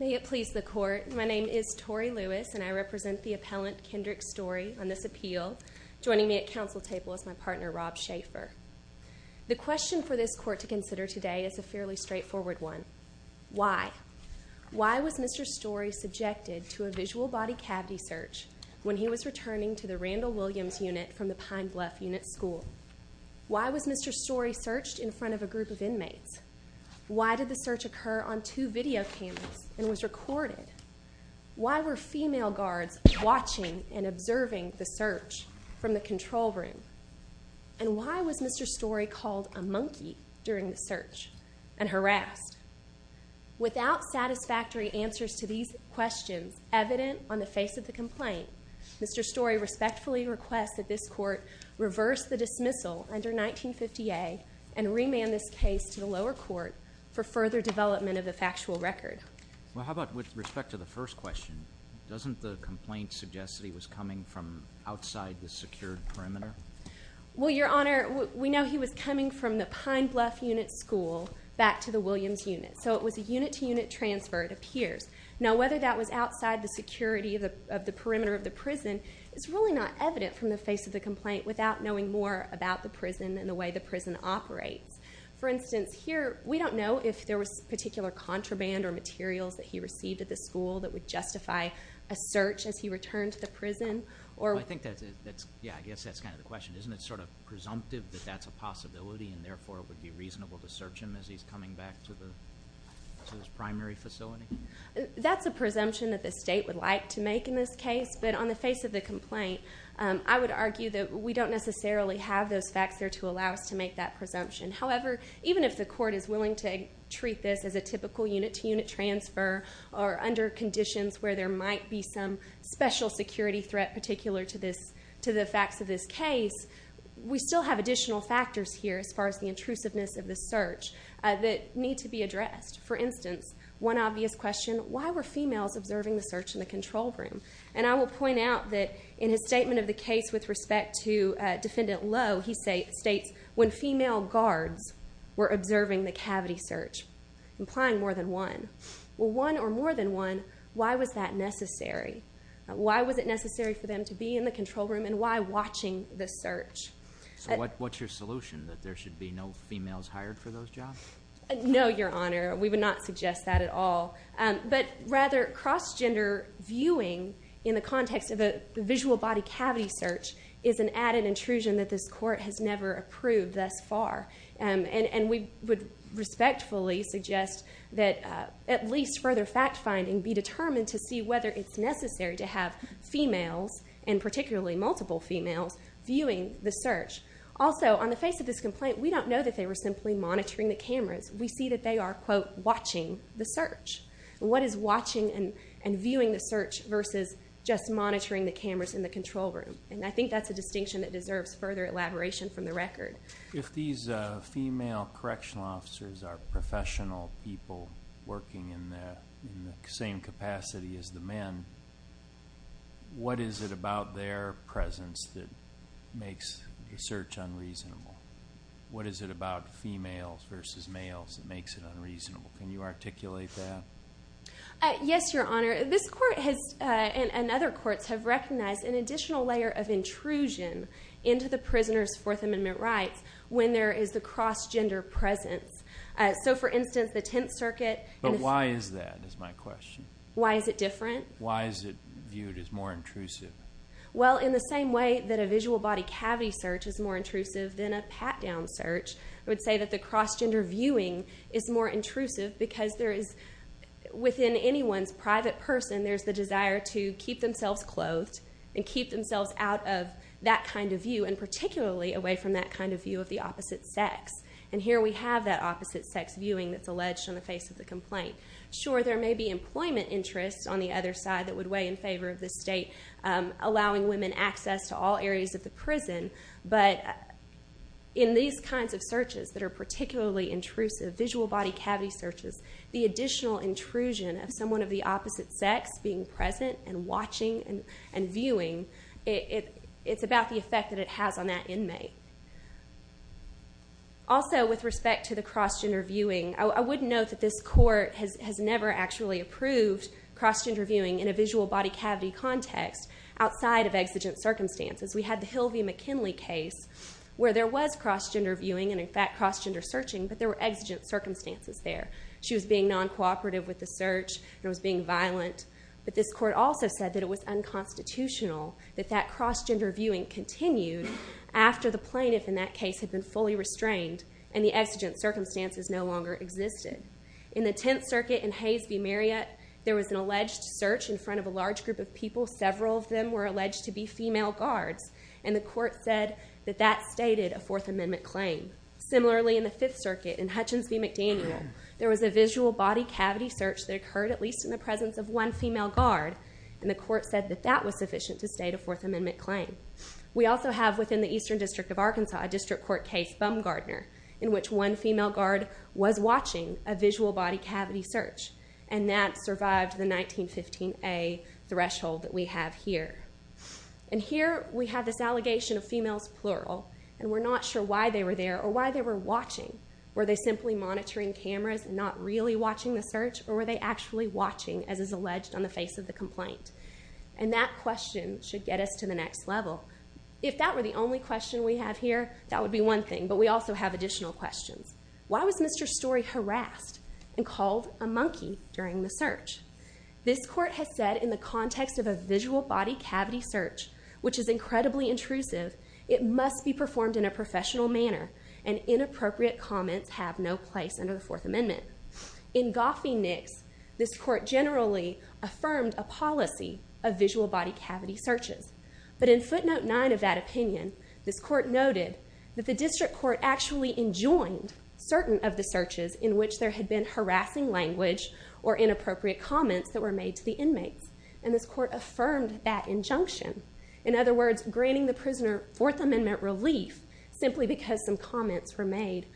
May it please the court, my name is Tori Lewis and I represent the appellant Kendrick Story on this appeal joining me at council table as my partner Rob Schaefer. The question for this court to consider today is a fairly straightforward one. Why? Why was Mr. Story subjected to a visual body cavity search when he was returning to the Randall Williams unit from the Pine Bluff unit school? Why was the search occur on two video cameras and was recorded? Why were female guards watching and observing the search from the control room? And why was Mr. Story called a monkey during the search and harassed? Without satisfactory answers to these questions evident on the face of the complaint, Mr. Story respectfully requests that this court reverse the dismissal under 1950a and remand this case to the lower court for further development of the factual record. Well how about with respect to the first question, doesn't the complaint suggest that he was coming from outside the secured perimeter? Well your honor, we know he was coming from the Pine Bluff unit school back to the Williams unit, so it was a unit to unit transfer it appears. Now whether that was outside the security of the perimeter of the prison is really not evident from the face of the complaint without knowing more about the prison and the way the prison operates. For instance, here we don't know if there was particular contraband or materials that he received at the school that would justify a search as he returned to the prison. I think that's it, yeah I guess that's kind of the question. Isn't it sort of presumptive that that's a possibility and therefore it would be reasonable to search him as he's coming back to his primary facility? That's a presumption that the state would like to make in this case, but on the face of the complaint I would argue that we don't necessarily have those facts there to allow us to make that presumption. However, even if the court is willing to treat this as a typical unit to unit transfer or under conditions where there might be some special security threat particular to this to the facts of this case, we still have additional factors here as far as the intrusiveness of the search that need to be addressed. For instance, one obvious question, why were females observing the search in the control room? And I will point out that in his statement of the case with respect to defendant Lowe, he states when female guards were observing the cavity search, implying more than one, well one or more than one, why was that necessary? Why was it necessary for them to be in the control room and why watching the search? So what's your solution, that there should be no females hired for those jobs? No, your honor, we would not suggest that at all, but rather cross-gender viewing in the context of a visual body cavity search is an added intrusion that this court has never approved thus far. And we would respectfully suggest that at least further fact-finding be determined to see whether it's necessary to have females, and particularly multiple females, viewing the search. Also, on the face of this complaint, we don't know that they were simply monitoring the cameras. We see that they are, quote, watching the search. What is watching and the control room? And I think that's a distinction that deserves further elaboration from the record. If these female correctional officers are professional people working in the same capacity as the men, what is it about their presence that makes the search unreasonable? What is it about females versus males that makes it unreasonable? Can you articulate that? Yes, your honor. This court has, and other courts, have recognized an additional layer of intrusion into the prisoner's Fourth Amendment rights when there is the cross-gender presence. So, for instance, the Tenth Circuit... But why is that, is my question. Why is it different? Why is it viewed as more intrusive? Well, in the same way that a visual body cavity search is more intrusive than a pat-down search, I would say that the cross-gender viewing is more intrusive because there is, within anyone's private person, there's the desire to keep themselves clothed and keep themselves out of that kind of view, and particularly away from that kind of view of the opposite sex. And here we have that opposite sex viewing that's alleged on the face of the complaint. Sure, there may be employment interests on the other side that would weigh in favor of this state allowing women access to all areas of the prison, but in these kinds of searches that are particularly intrusive, visual body cavity searches, the additional intrusion of someone of the opposite sex being present and watching and viewing, it's about the effect that it has on that inmate. Also, with respect to the cross-gender viewing, I would note that this court has never actually approved cross-gender viewing in a visual body cavity context outside of exigent circumstances. We had the Hilvey-McKinley case where there was cross-gender viewing and, in fact, cross-gender searching, but there were exigent circumstances there. She was being non-cooperative with the search and was being violent, but this court also said that it was unconstitutional that that cross-gender viewing continued after the plaintiff in that case had been fully restrained and the exigent circumstances no longer existed. In the Tenth Circuit in Hays v. Marriott, there was an alleged search in front of a large group of people. Several of them were alleged to be female guards, and the court said that that stated a Fourth Amendment claim. Similarly, in the Fifth Circuit in Hutchins v. McDaniel, there was a visual body cavity search that occurred at least in the presence of one female guard, and the court said that that was sufficient to state a Fourth Amendment claim. We also have, within the Eastern District of Arkansas, a district court case, Bumgardner, in which one female guard was watching a visual body cavity search, and that survived the 1915a threshold that we have here. And here, we have this allegation of females, plural, and we're not sure why they were there or why they were watching. Were they simply monitoring cameras and not really watching the search, or were they actually watching, as is alleged on the face of the complaint? And that question should get us to the next level. If that were the only question we have here, that would be one thing, but we also have additional questions. Why was Mr. Story harassed and called a monkey during the search? This court has said, in the context of a visual body cavity search, which is incredibly intrusive, it must be no place under the Fourth Amendment. In Goffey-Nicks, this court generally affirmed a policy of visual body cavity searches, but in footnote 9 of that opinion, this court noted that the district court actually enjoined certain of the searches in which there had been harassing language or inappropriate comments that were made to the inmates, and this court affirmed that injunction. In other words, granting the prisoner Fourth Amendment relief simply because some comments were made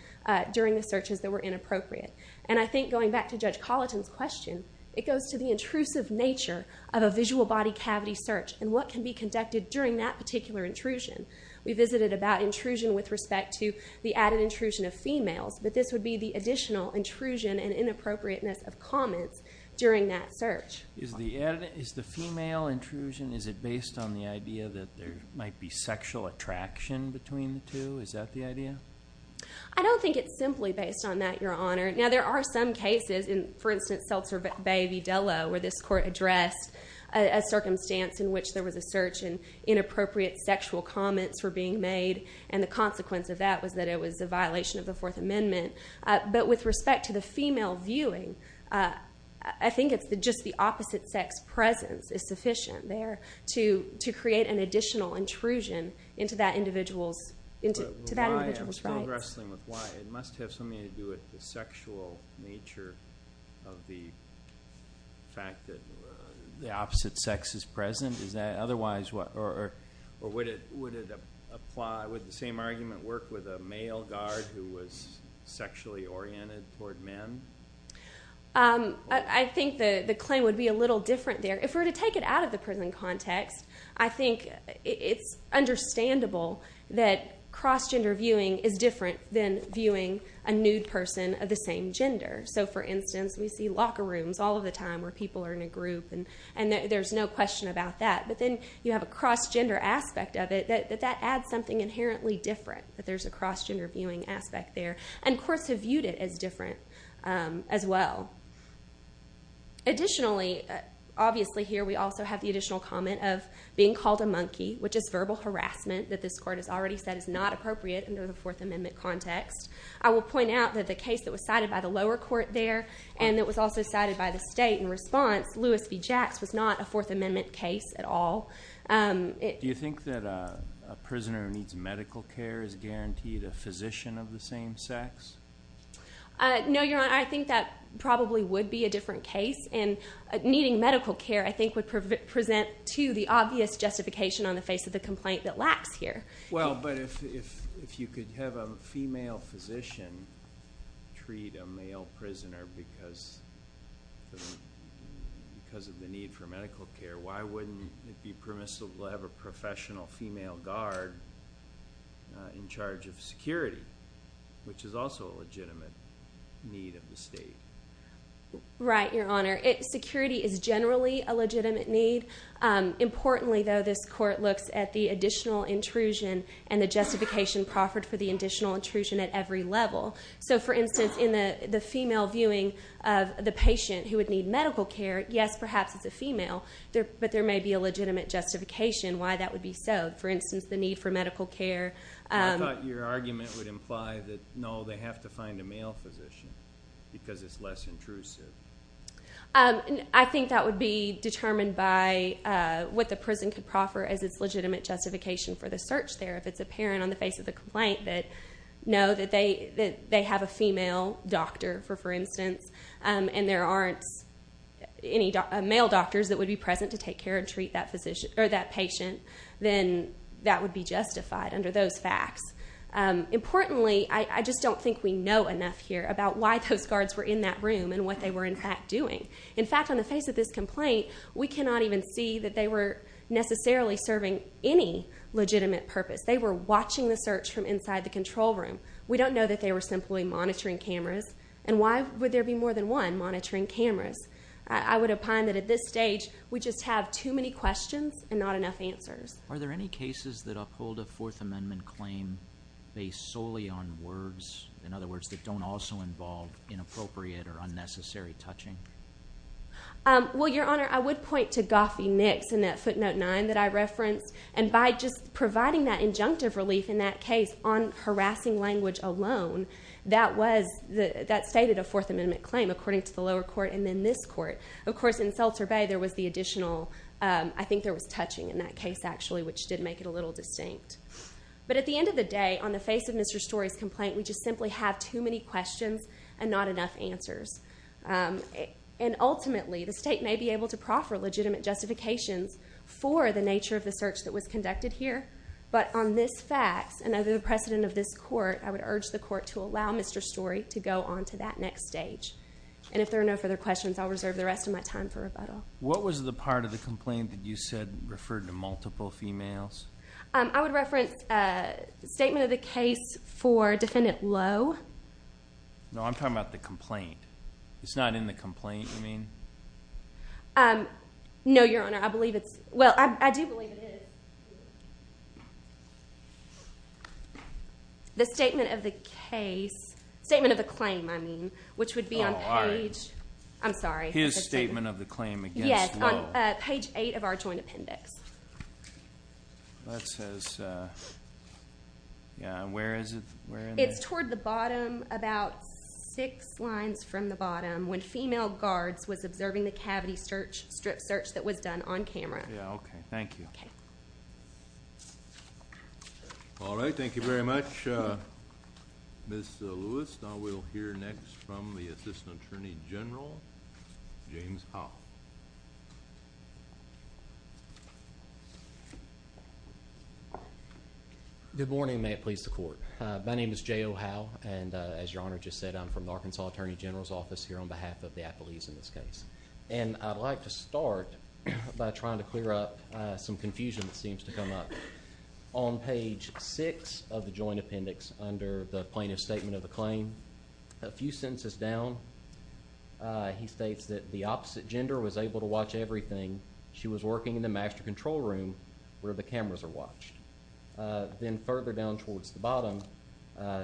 during the searches that were inappropriate. And I think, going back to Judge Colleton's question, it goes to the intrusive nature of a visual body cavity search and what can be conducted during that particular intrusion. We visited about intrusion with respect to the added intrusion of females, but this would be the additional intrusion and inappropriateness of comments during that search. Is the female intrusion based on the sexual attraction between the two? Is that the idea? I don't think it's simply based on that, Your Honor. Now, there are some cases, for instance, in Seltzer Bay v. Dello, where this court addressed a circumstance in which there was a search and inappropriate sexual comments were being made, and the consequence of that was that it was a violation of the Fourth Amendment. But with respect to the female viewing, I think it's just the opposite sex presence is sufficient there to create an additional intrusion into that individual's rights. But why? I'm still wrestling with why. It must have something to do with the sexual nature of the fact that the opposite sex is present? Or would the same argument work with a male guard who was sexually oriented toward men? I think the claim would be a little different there. If we were to take it out of the prison context, I think it's understandable that cross-gender viewing is different than viewing a nude person of the same gender. So, for instance, we see locker rooms all of the time where people are in a group, and there's no question about that. But then you have a cross-gender aspect of it that adds something inherently different, that there's a cross-gender viewing aspect there. And courts have viewed it as different as well. Additionally, obviously here we also have the additional comment of being called a monkey, which is verbal harassment that this Court has already said is not appropriate under the Fourth Amendment context. I will point out that the case that was cited by the lower court there, and that was also cited by the state in response, Lewis v. Jacks, was not a Fourth Amendment case at all. Do you think that a prisoner who needs medical care is guaranteed a physician of the same sex? No, Your Honor. I think that probably would be a different case. And needing medical care I think would present, too, the obvious justification on the face of the complaint that lacks here. Well, but if you could have a female physician treat a male prisoner because of the need for medical care, why wouldn't it be permissible to have a professional female guard in charge of security, which is also a legitimate need of the state? Right, Your Honor. Security is generally a legitimate need. Importantly, though, this Court looks at the additional intrusion and the justification proffered for the additional intrusion at every level. So, for instance, in the female viewing of the patient who would need medical care, yes, perhaps it's a female, but there may be a legitimate justification why that would be so. For instance, the need for medical care. I thought your argument would imply that, no, they have to find a male physician because it's less intrusive. I think that would be determined by what the prison could proffer as its legitimate justification for the search there. If it's apparent on the face of the complaint that, no, they have a female doctor, for instance, and there aren't any male doctors that would be present to take care and treat that patient, then that would be justified under those facts. Importantly, I just don't think we know enough here about why those guards were in that room and what they were, in fact, doing. In fact, on the face of this complaint, we cannot even see that they were necessarily serving any legitimate purpose. They were watching the monitoring cameras, and why would there be more than one monitoring cameras? I would opine that at this stage, we just have too many questions and not enough answers. Are there any cases that uphold a Fourth Amendment claim based solely on words, in other words, that don't also involve inappropriate or unnecessary touching? Well, Your Honor, I would point to Goffey-Nicks in that footnote 9 that I referenced. By just that, that stated a Fourth Amendment claim, according to the lower court and then this court. Of course, in Seltzer Bay, there was the additional, I think there was touching in that case, actually, which did make it a little distinct. But at the end of the day, on the face of Mr. Story's complaint, we just simply have too many questions and not enough answers. Ultimately, the state may be able to proffer legitimate justifications for the nature of the search that was conducted here, but on this fact, and under the precedent of this court, I would urge the court to allow Mr. Story to go on to that next stage. And if there are no further questions, I'll reserve the rest of my time for rebuttal. What was the part of the complaint that you said referred to multiple females? I would reference a statement of the case for Defendant Lowe. No, I'm talking about the complaint. It's not in the complaint, you mean? No, Your Honor. I believe it's... Well, I do believe it is. The statement of the case... Statement of the claim, I mean, which would be on page... Oh, all right. I'm sorry. His statement of the claim against Lowe. Yes, on page eight of our joint appendix. That says... Yeah, where is it? Where in there? It's toward the bottom, about six lines from the bottom, when female guards was observing the cavity strip search that was done on camera. Yeah, okay. Thank you. Okay. All right. Thank you very much, Ms. Lewis. Now we'll hear next from the Assistant Attorney General, James Howell. Good morning. May it please the court. My name is J.O. Howell, and as Your Honor just said, I'm from the Arkansas Attorney General's office here on behalf of the appellees in this case. And I'd like to start by trying to clear up some confusion that seems to come up. On page six of the joint appendix under the plaintiff's statement of the claim, a few sentences down, he states that the opposite gender was able to watch everything. She was working in the master control room where the cameras are watched. Then further down towards the bottom,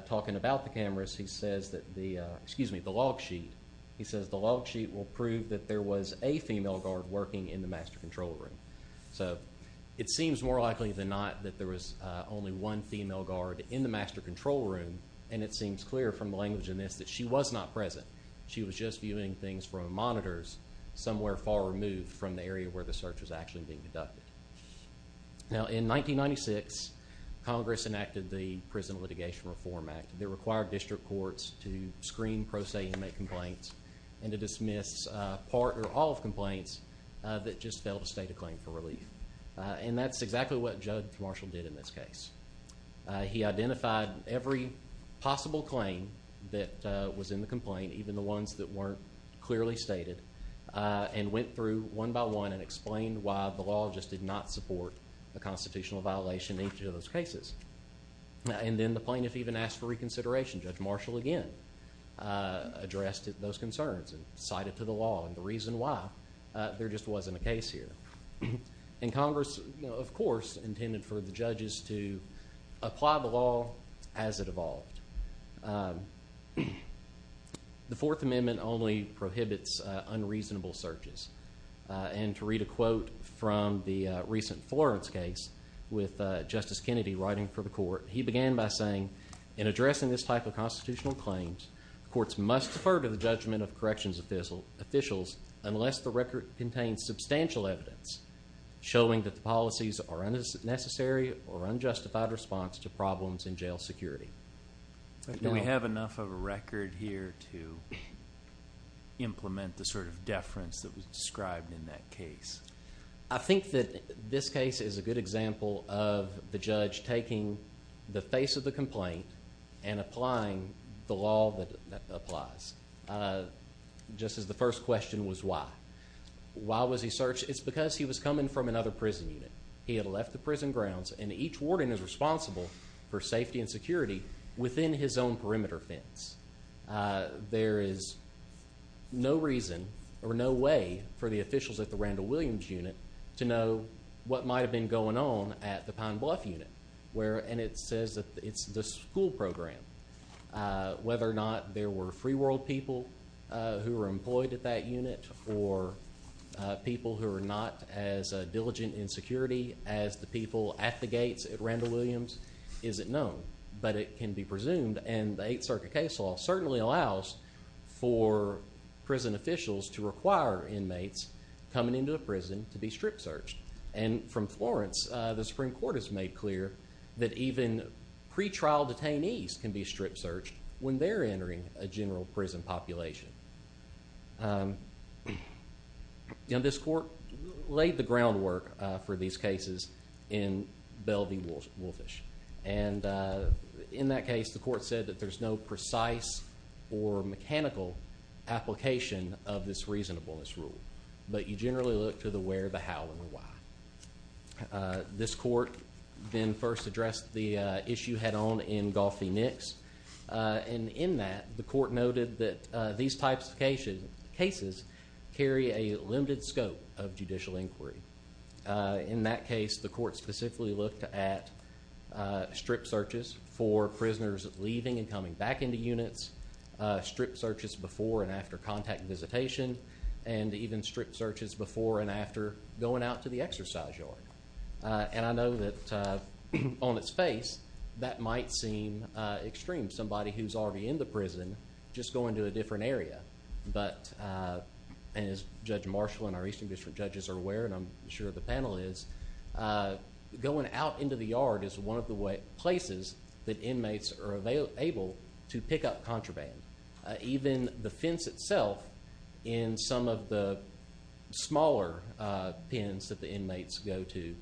talking about the cameras, he says that the... Excuse me, the log sheet. He says the log sheet will prove that there was a female guard working in the master control room. So it seems more likely than not that there was only one female guard in the master control room. And it seems clear from the language in this that she was not present. She was just viewing things from monitors somewhere far removed from the area where the search was actually being conducted. Now in 1996, Congress enacted the Prison Litigation Reform Act. It required district courts to screen pro se inmate complaints and to dismiss all of complaints that just failed to state a claim for relief. And that's exactly what Judge Marshall did in this case. He identified every possible claim that was in the complaint, even the ones that weren't clearly stated, and went through one by one and explained why the law just did not support a constitutional violation in each of those cases. And then the plaintiff even asked for reconsideration. Judge Marshall again addressed those concerns and cited to the law the reason why there just wasn't a case here. And Congress, of course, intended for the judges to apply the law as it evolved. The Fourth Amendment only prohibits unreasonable searches. And to read a quote from the recent Florence case with Justice Kennedy writing for the court, he began by saying, in addressing this type of constitutional claims, courts must defer to the judgment of corrections officials unless the record contains substantial evidence showing that the policies are unnecessary or unjustified response to problems in jail security. Do we have enough of a record here to implement the sort of deference that was described in that case? I think that this case is a good example of the judge taking the face of the complaint and applying the law that applies. Just as the first question was why. Why was he searched? It's because he was coming from another prison unit. He had left the prison grounds and each warden is responsible for safety and security within his own perimeter fence. There is no reason or no way for the officials at the Randall Williams unit to know what might have been going on at the Pine Bluff unit. And it says that it's the school program. Whether or not there were free world people who were employed at that unit or people who are not as diligent in security as the people at the gates at Randall Williams isn't known. But it can be presumed. And the Eighth Circuit case law certainly allows for prison officials to require inmates coming into a prison to be strip searched. And from Florence, the Supreme Court has made clear that even pre-trial detainees can be strip searched when they're entering a general prison population. This court laid the groundwork for these cases in Belle v. Woolfish. And in that case, the court said that there's no precise or mechanical application of this reasonableness rule. But you generally look to the where, the how, and the why. This court then first addressed the issue head-on in Goffey-Nicks. And in that, the court noted that these types of cases carry a limited scope of judicial inquiry. In that case, the court specifically looked at strip searches for prisoners leaving and coming back into units, strip searches before and after contact visitation, and even strip searches before and after going out to the exercise yard. And I know that on its face, that might seem extreme. Somebody who's already in the prison just going to a different area. But as Judge Marshall and our Eastern District judges are aware, and I'm sure the panel is, going out into the yard is one of the places that inmates are able to pick up contraband. Even the fence itself in some of the smaller pens that the inmates go to.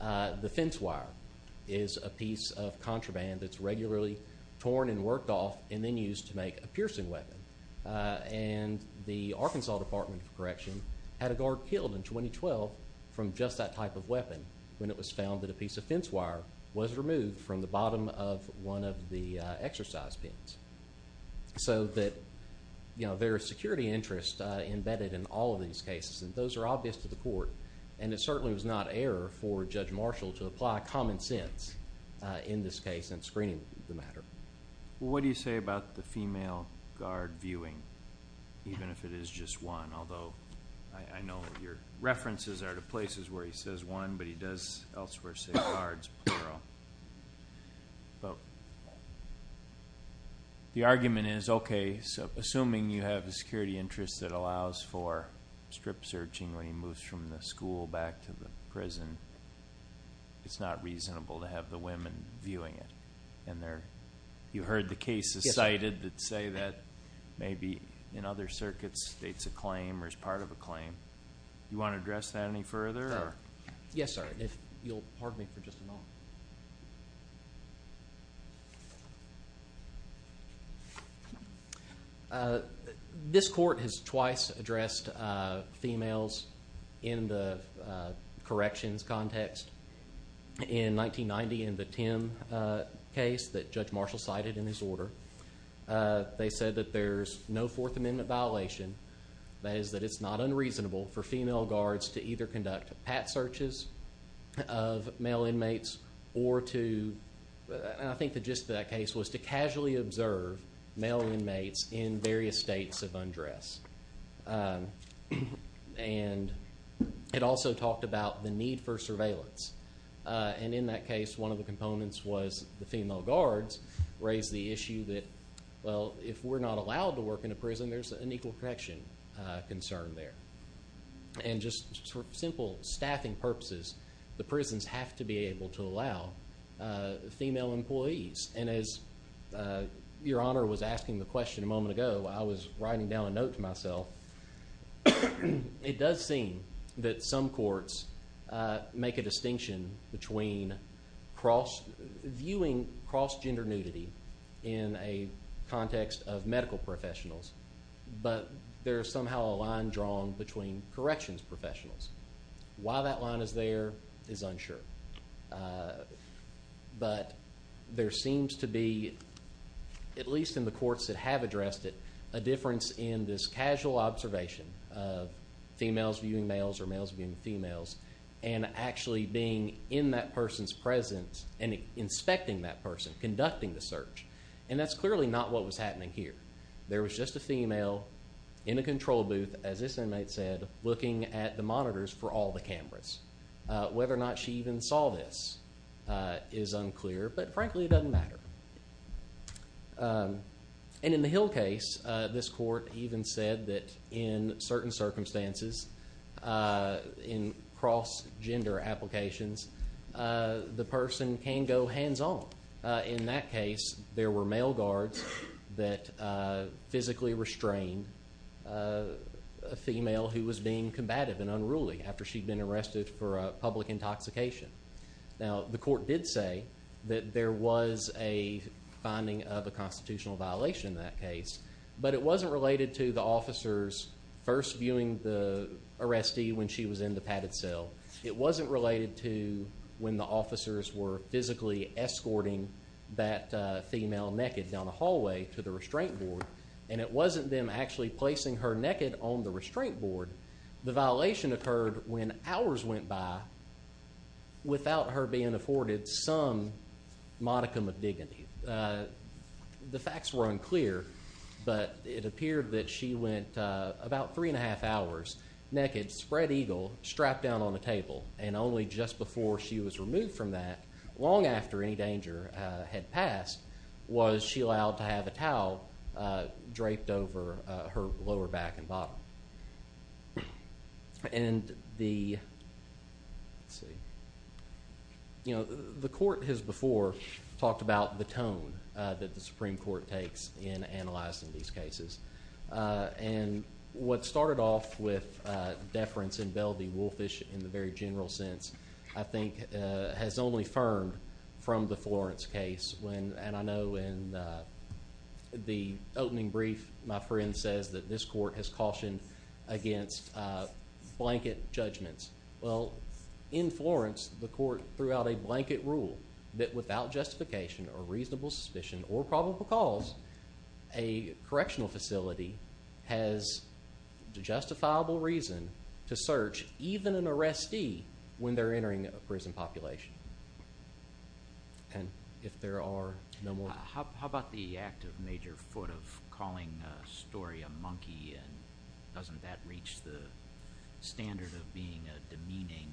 The fence wire is a piece of contraband that's regularly torn and worked off and then used to make a piercing weapon. And the Arkansas Department of Correction had a guard killed in 2012 from just that type of weapon when it was found that a piece of fence wire was removed from the bottom of one of the exercise pens. So that there is security interest embedded in all of these cases. And those are obvious to the court. And it certainly was not error for Judge Marshall to apply common sense in this case and screening the matter. What do you say about the female guard viewing? Even if it is just one. Although I know your references are to places where he says one, but he does elsewhere say guards. The argument is, okay, assuming you have a security interest that allows for strip searching when he moves from the school back to the prison, it's not reasonable to have the women viewing it. And you heard the cases cited that say that maybe in other circuits it's a claim or is part of a claim. Do you want to address that any further? Yes, sir. If you'll pardon me for just a moment. This court has twice addressed females in the corrections context. In 1990 in the Tim case that Judge Marshall cited in his order, they said that there's no Fourth Amendment violation. That is that it's not unreasonable for female guards to either conduct pat searches of male inmates or to, and I think the gist of that case was to casually observe male inmates in various states of undress. And it also talked about the need for surveillance. And in that case, one of the components was the female guards raised the issue that, well, if we're not allowed to work in a prison, there's an equal protection concern there. And just for simple staffing purposes, the prisons have to be able to allow female employees. And as Your Honor was asking the question a moment ago, I was writing down a note to myself. It does seem that some courts make a distinction between viewing cross-gender nudity in a context of medical professionals, but there is somehow a line drawn between corrections professionals. Why that line is there is unsure. But there seems to be, at least in the courts that have addressed it, a difference in this casual observation of females viewing males or males viewing females and actually being in that person's presence and inspecting that person, conducting the search. And that's clearly not what was happening here. There was just a female in a control booth, as this inmate said, looking at the monitors for all the cameras. Whether or not she even saw this is unclear, but frankly it doesn't matter. And in the Hill case, this court even said that in certain circumstances, in cross-gender applications, the person can go hands-on. In that case, there were male guards that physically restrained a female who was being combative and unruly after she'd been arrested for public intoxication. Now, the court did say that there was a finding of a constitutional violation in that case, but it wasn't related to the officers first viewing the arrestee when she was in the padded cell. It wasn't related to when the officers were physically escorting that female naked down the hallway to the restraint board. And it wasn't them actually placing her naked on the restraint board. The violation occurred when hours went by without her being afforded some modicum of dignity. The facts were unclear, but it appeared that she went about three and a half hours naked, with a spread eagle strapped down on a table, and only just before she was removed from that, long after any danger had passed, was she allowed to have a towel draped over her lower back and bottom. The court has before talked about the tone that the Supreme Court takes in analyzing these cases. And what started off with deference in Belle v. Woolfish in the very general sense, I think has only firmed from the Florence case. And I know in the opening brief, my friend says that this court has cautioned against blanket judgments. Well, in Florence, the court threw out a blanket rule that without justification or reasonable suspicion or probable cause, a correctional facility has justifiable reason to search even an arrestee when they're entering a prison population. And if there are no more... How about the act of major foot, of calling a story a monkey, and doesn't that reach the standard of being a demeaning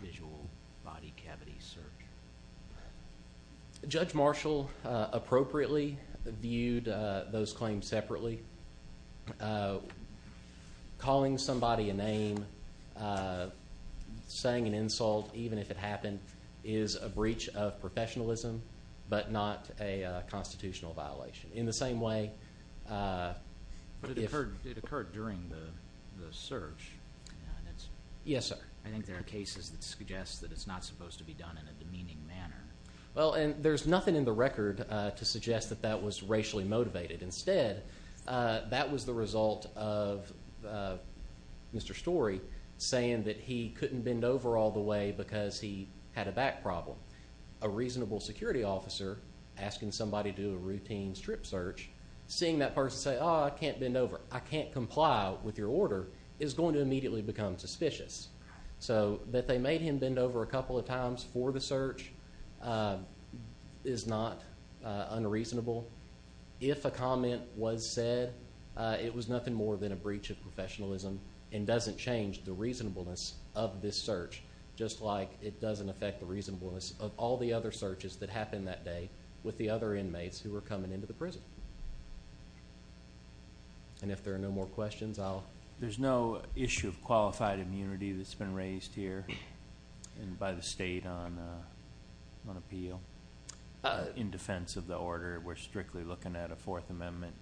visual body cavity search? Judge Marshall appropriately viewed those claims separately. Calling somebody a name, saying an insult, even if it happened, is a breach of professionalism, but not a constitutional violation. In the same way... But it occurred during the search. Yes, sir. I think there are cases that suggest that it's not supposed to be done in a demeaning manner. Well, and there's nothing in the record to suggest that that was racially motivated. Instead, that was the result of Mr. Story saying that he couldn't bend over all the way because he had a back problem. A reasonable security officer asking somebody to do a routine strip search, seeing that person say, oh, I can't bend over, I can't comply with your order, is going to immediately become suspicious. So that they made him bend over a couple of times for the search is not unreasonable. If a comment was said, it was nothing more than a breach of professionalism and doesn't change the reasonableness of this search, just like it doesn't affect the reasonableness of all the other searches that happened that day with the other inmates who were coming into the prison. And if there are no more questions, I'll... There's no issue of qualified immunity that's been raised here by the state on appeal in defense of the order. We're strictly looking at a Fourth Amendment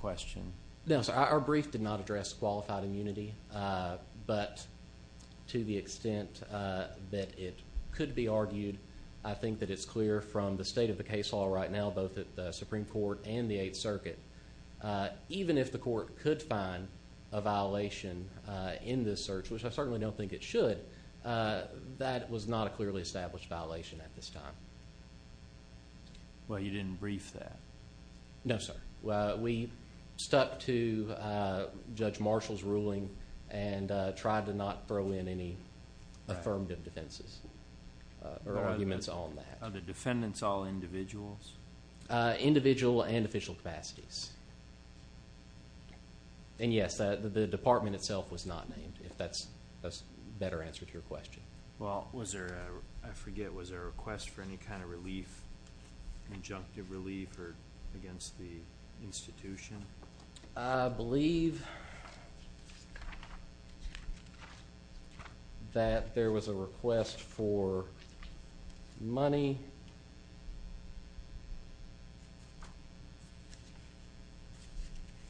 question. No, sir. Our brief did not address qualified immunity. But to the extent that it could be argued, I think that it's clear from the state of the case law right now, both at the Supreme Court and the Eighth Circuit, even if the court could find a violation in this search, which I certainly don't think it should, that was not a clearly established violation at this time. Well, you didn't brief that? No, sir. We stuck to Judge Marshall's ruling and tried to not throw in any affirmative defenses or arguments on that. Are the defendants all individuals? Individual and official capacities. And yes, the department itself was not named, if that's a better answer to your question. Well, was there a... I forget. Was there a request for any kind of relief, injunctive relief against the institution? I believe that there was a request for money.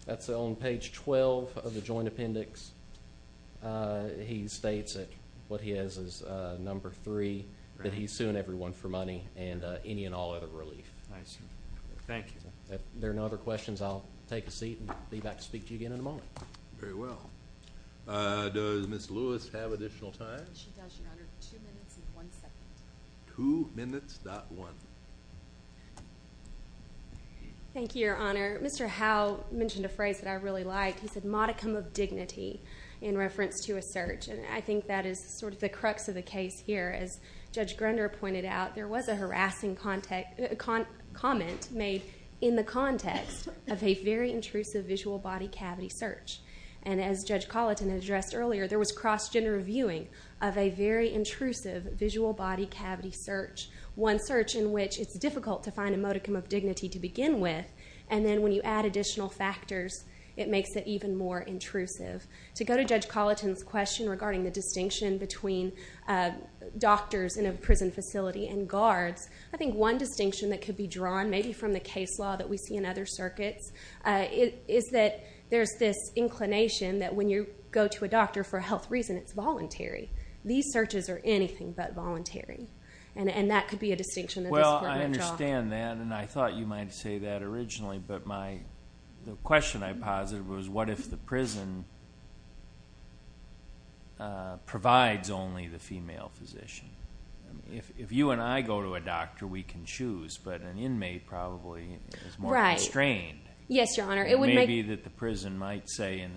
That's on page 12 of the joint appendix. He states that what he has is number 3, that he's suing everyone for money and any and all other relief. I see. Thank you. If there are no other questions, I'll take a seat and be back to speak to you again in a moment. Very well. Does Ms. Lewis have additional time? She does, Your Honor. Two minutes and one second. Two minutes, not one. Thank you, Your Honor. Mr. Howe mentioned a phrase that I really liked. He said modicum of dignity in reference to a search. And I think that is sort of the crux of the case here. As Judge Grunder pointed out, there was a harassing comment made in the context of a very intrusive visual body cavity search. And as Judge Colleton addressed earlier, there was cross-gender viewing of a very intrusive visual body cavity search. One search in which it's difficult to find a modicum of dignity to begin with. And then when you add additional factors, it makes it even more intrusive. To go to Judge Colleton's question regarding the distinction between doctors in a prison facility and guards, I think one distinction that could be drawn maybe from the case law that we see in other circuits is that there's this inclination that when you go to a doctor for a health reason, it's voluntary. These searches are anything but voluntary. And that could be a distinction that could be drawn. Well, I understand that. And I thought you might say that originally. But the question I posited was, what if the prison provides only the female physician? If you and I go to a doctor, we can choose. But an inmate probably is more constrained. Yes, Your Honor. It may be that the prison might say,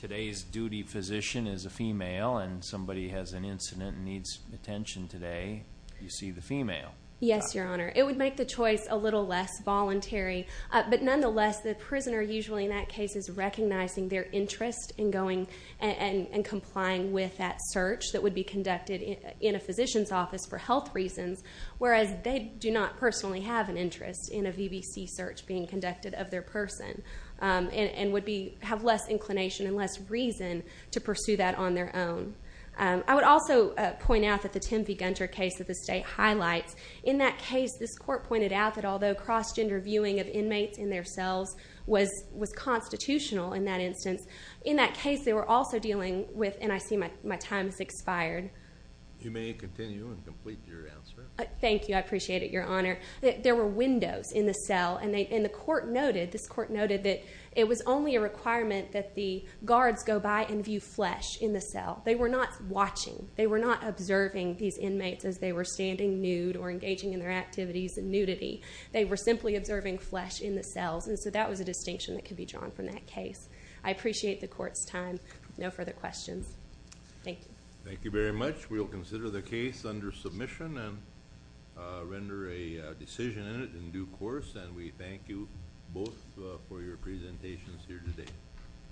today's duty physician is a female and somebody has an incident and needs attention today. You see the female. Yes, Your Honor. It would make the choice a little less voluntary. But nonetheless, the prisoner usually in that case is recognizing their interest in going and complying with that search that would be conducted in a physician's office for health reasons, whereas they do not personally have an interest in a VBC search being conducted of their person and would have less inclination and less reason to pursue that on their own. I would also point out that the Tim V. Gunter case that the state highlights, in that case this court pointed out that although cross-gender viewing of inmates in their cells was constitutional in that instance, in that case they were also dealing with, and I see my time has expired. You may continue and complete your answer. Thank you. I appreciate it, Your Honor. There were windows in the cell and the court noted, this court noted that it was only a requirement that the guards go by and view flesh in the cell. They were not watching. They were not observing these inmates as they were standing nude or engaging in their activities in nudity. They were simply observing flesh in the cells, and so that was a distinction that could be drawn from that case. I appreciate the court's time. No further questions. Thank you. Thank you very much. We will consider the case under submission and render a decision in it in due course, and we thank you both for your presentations here today.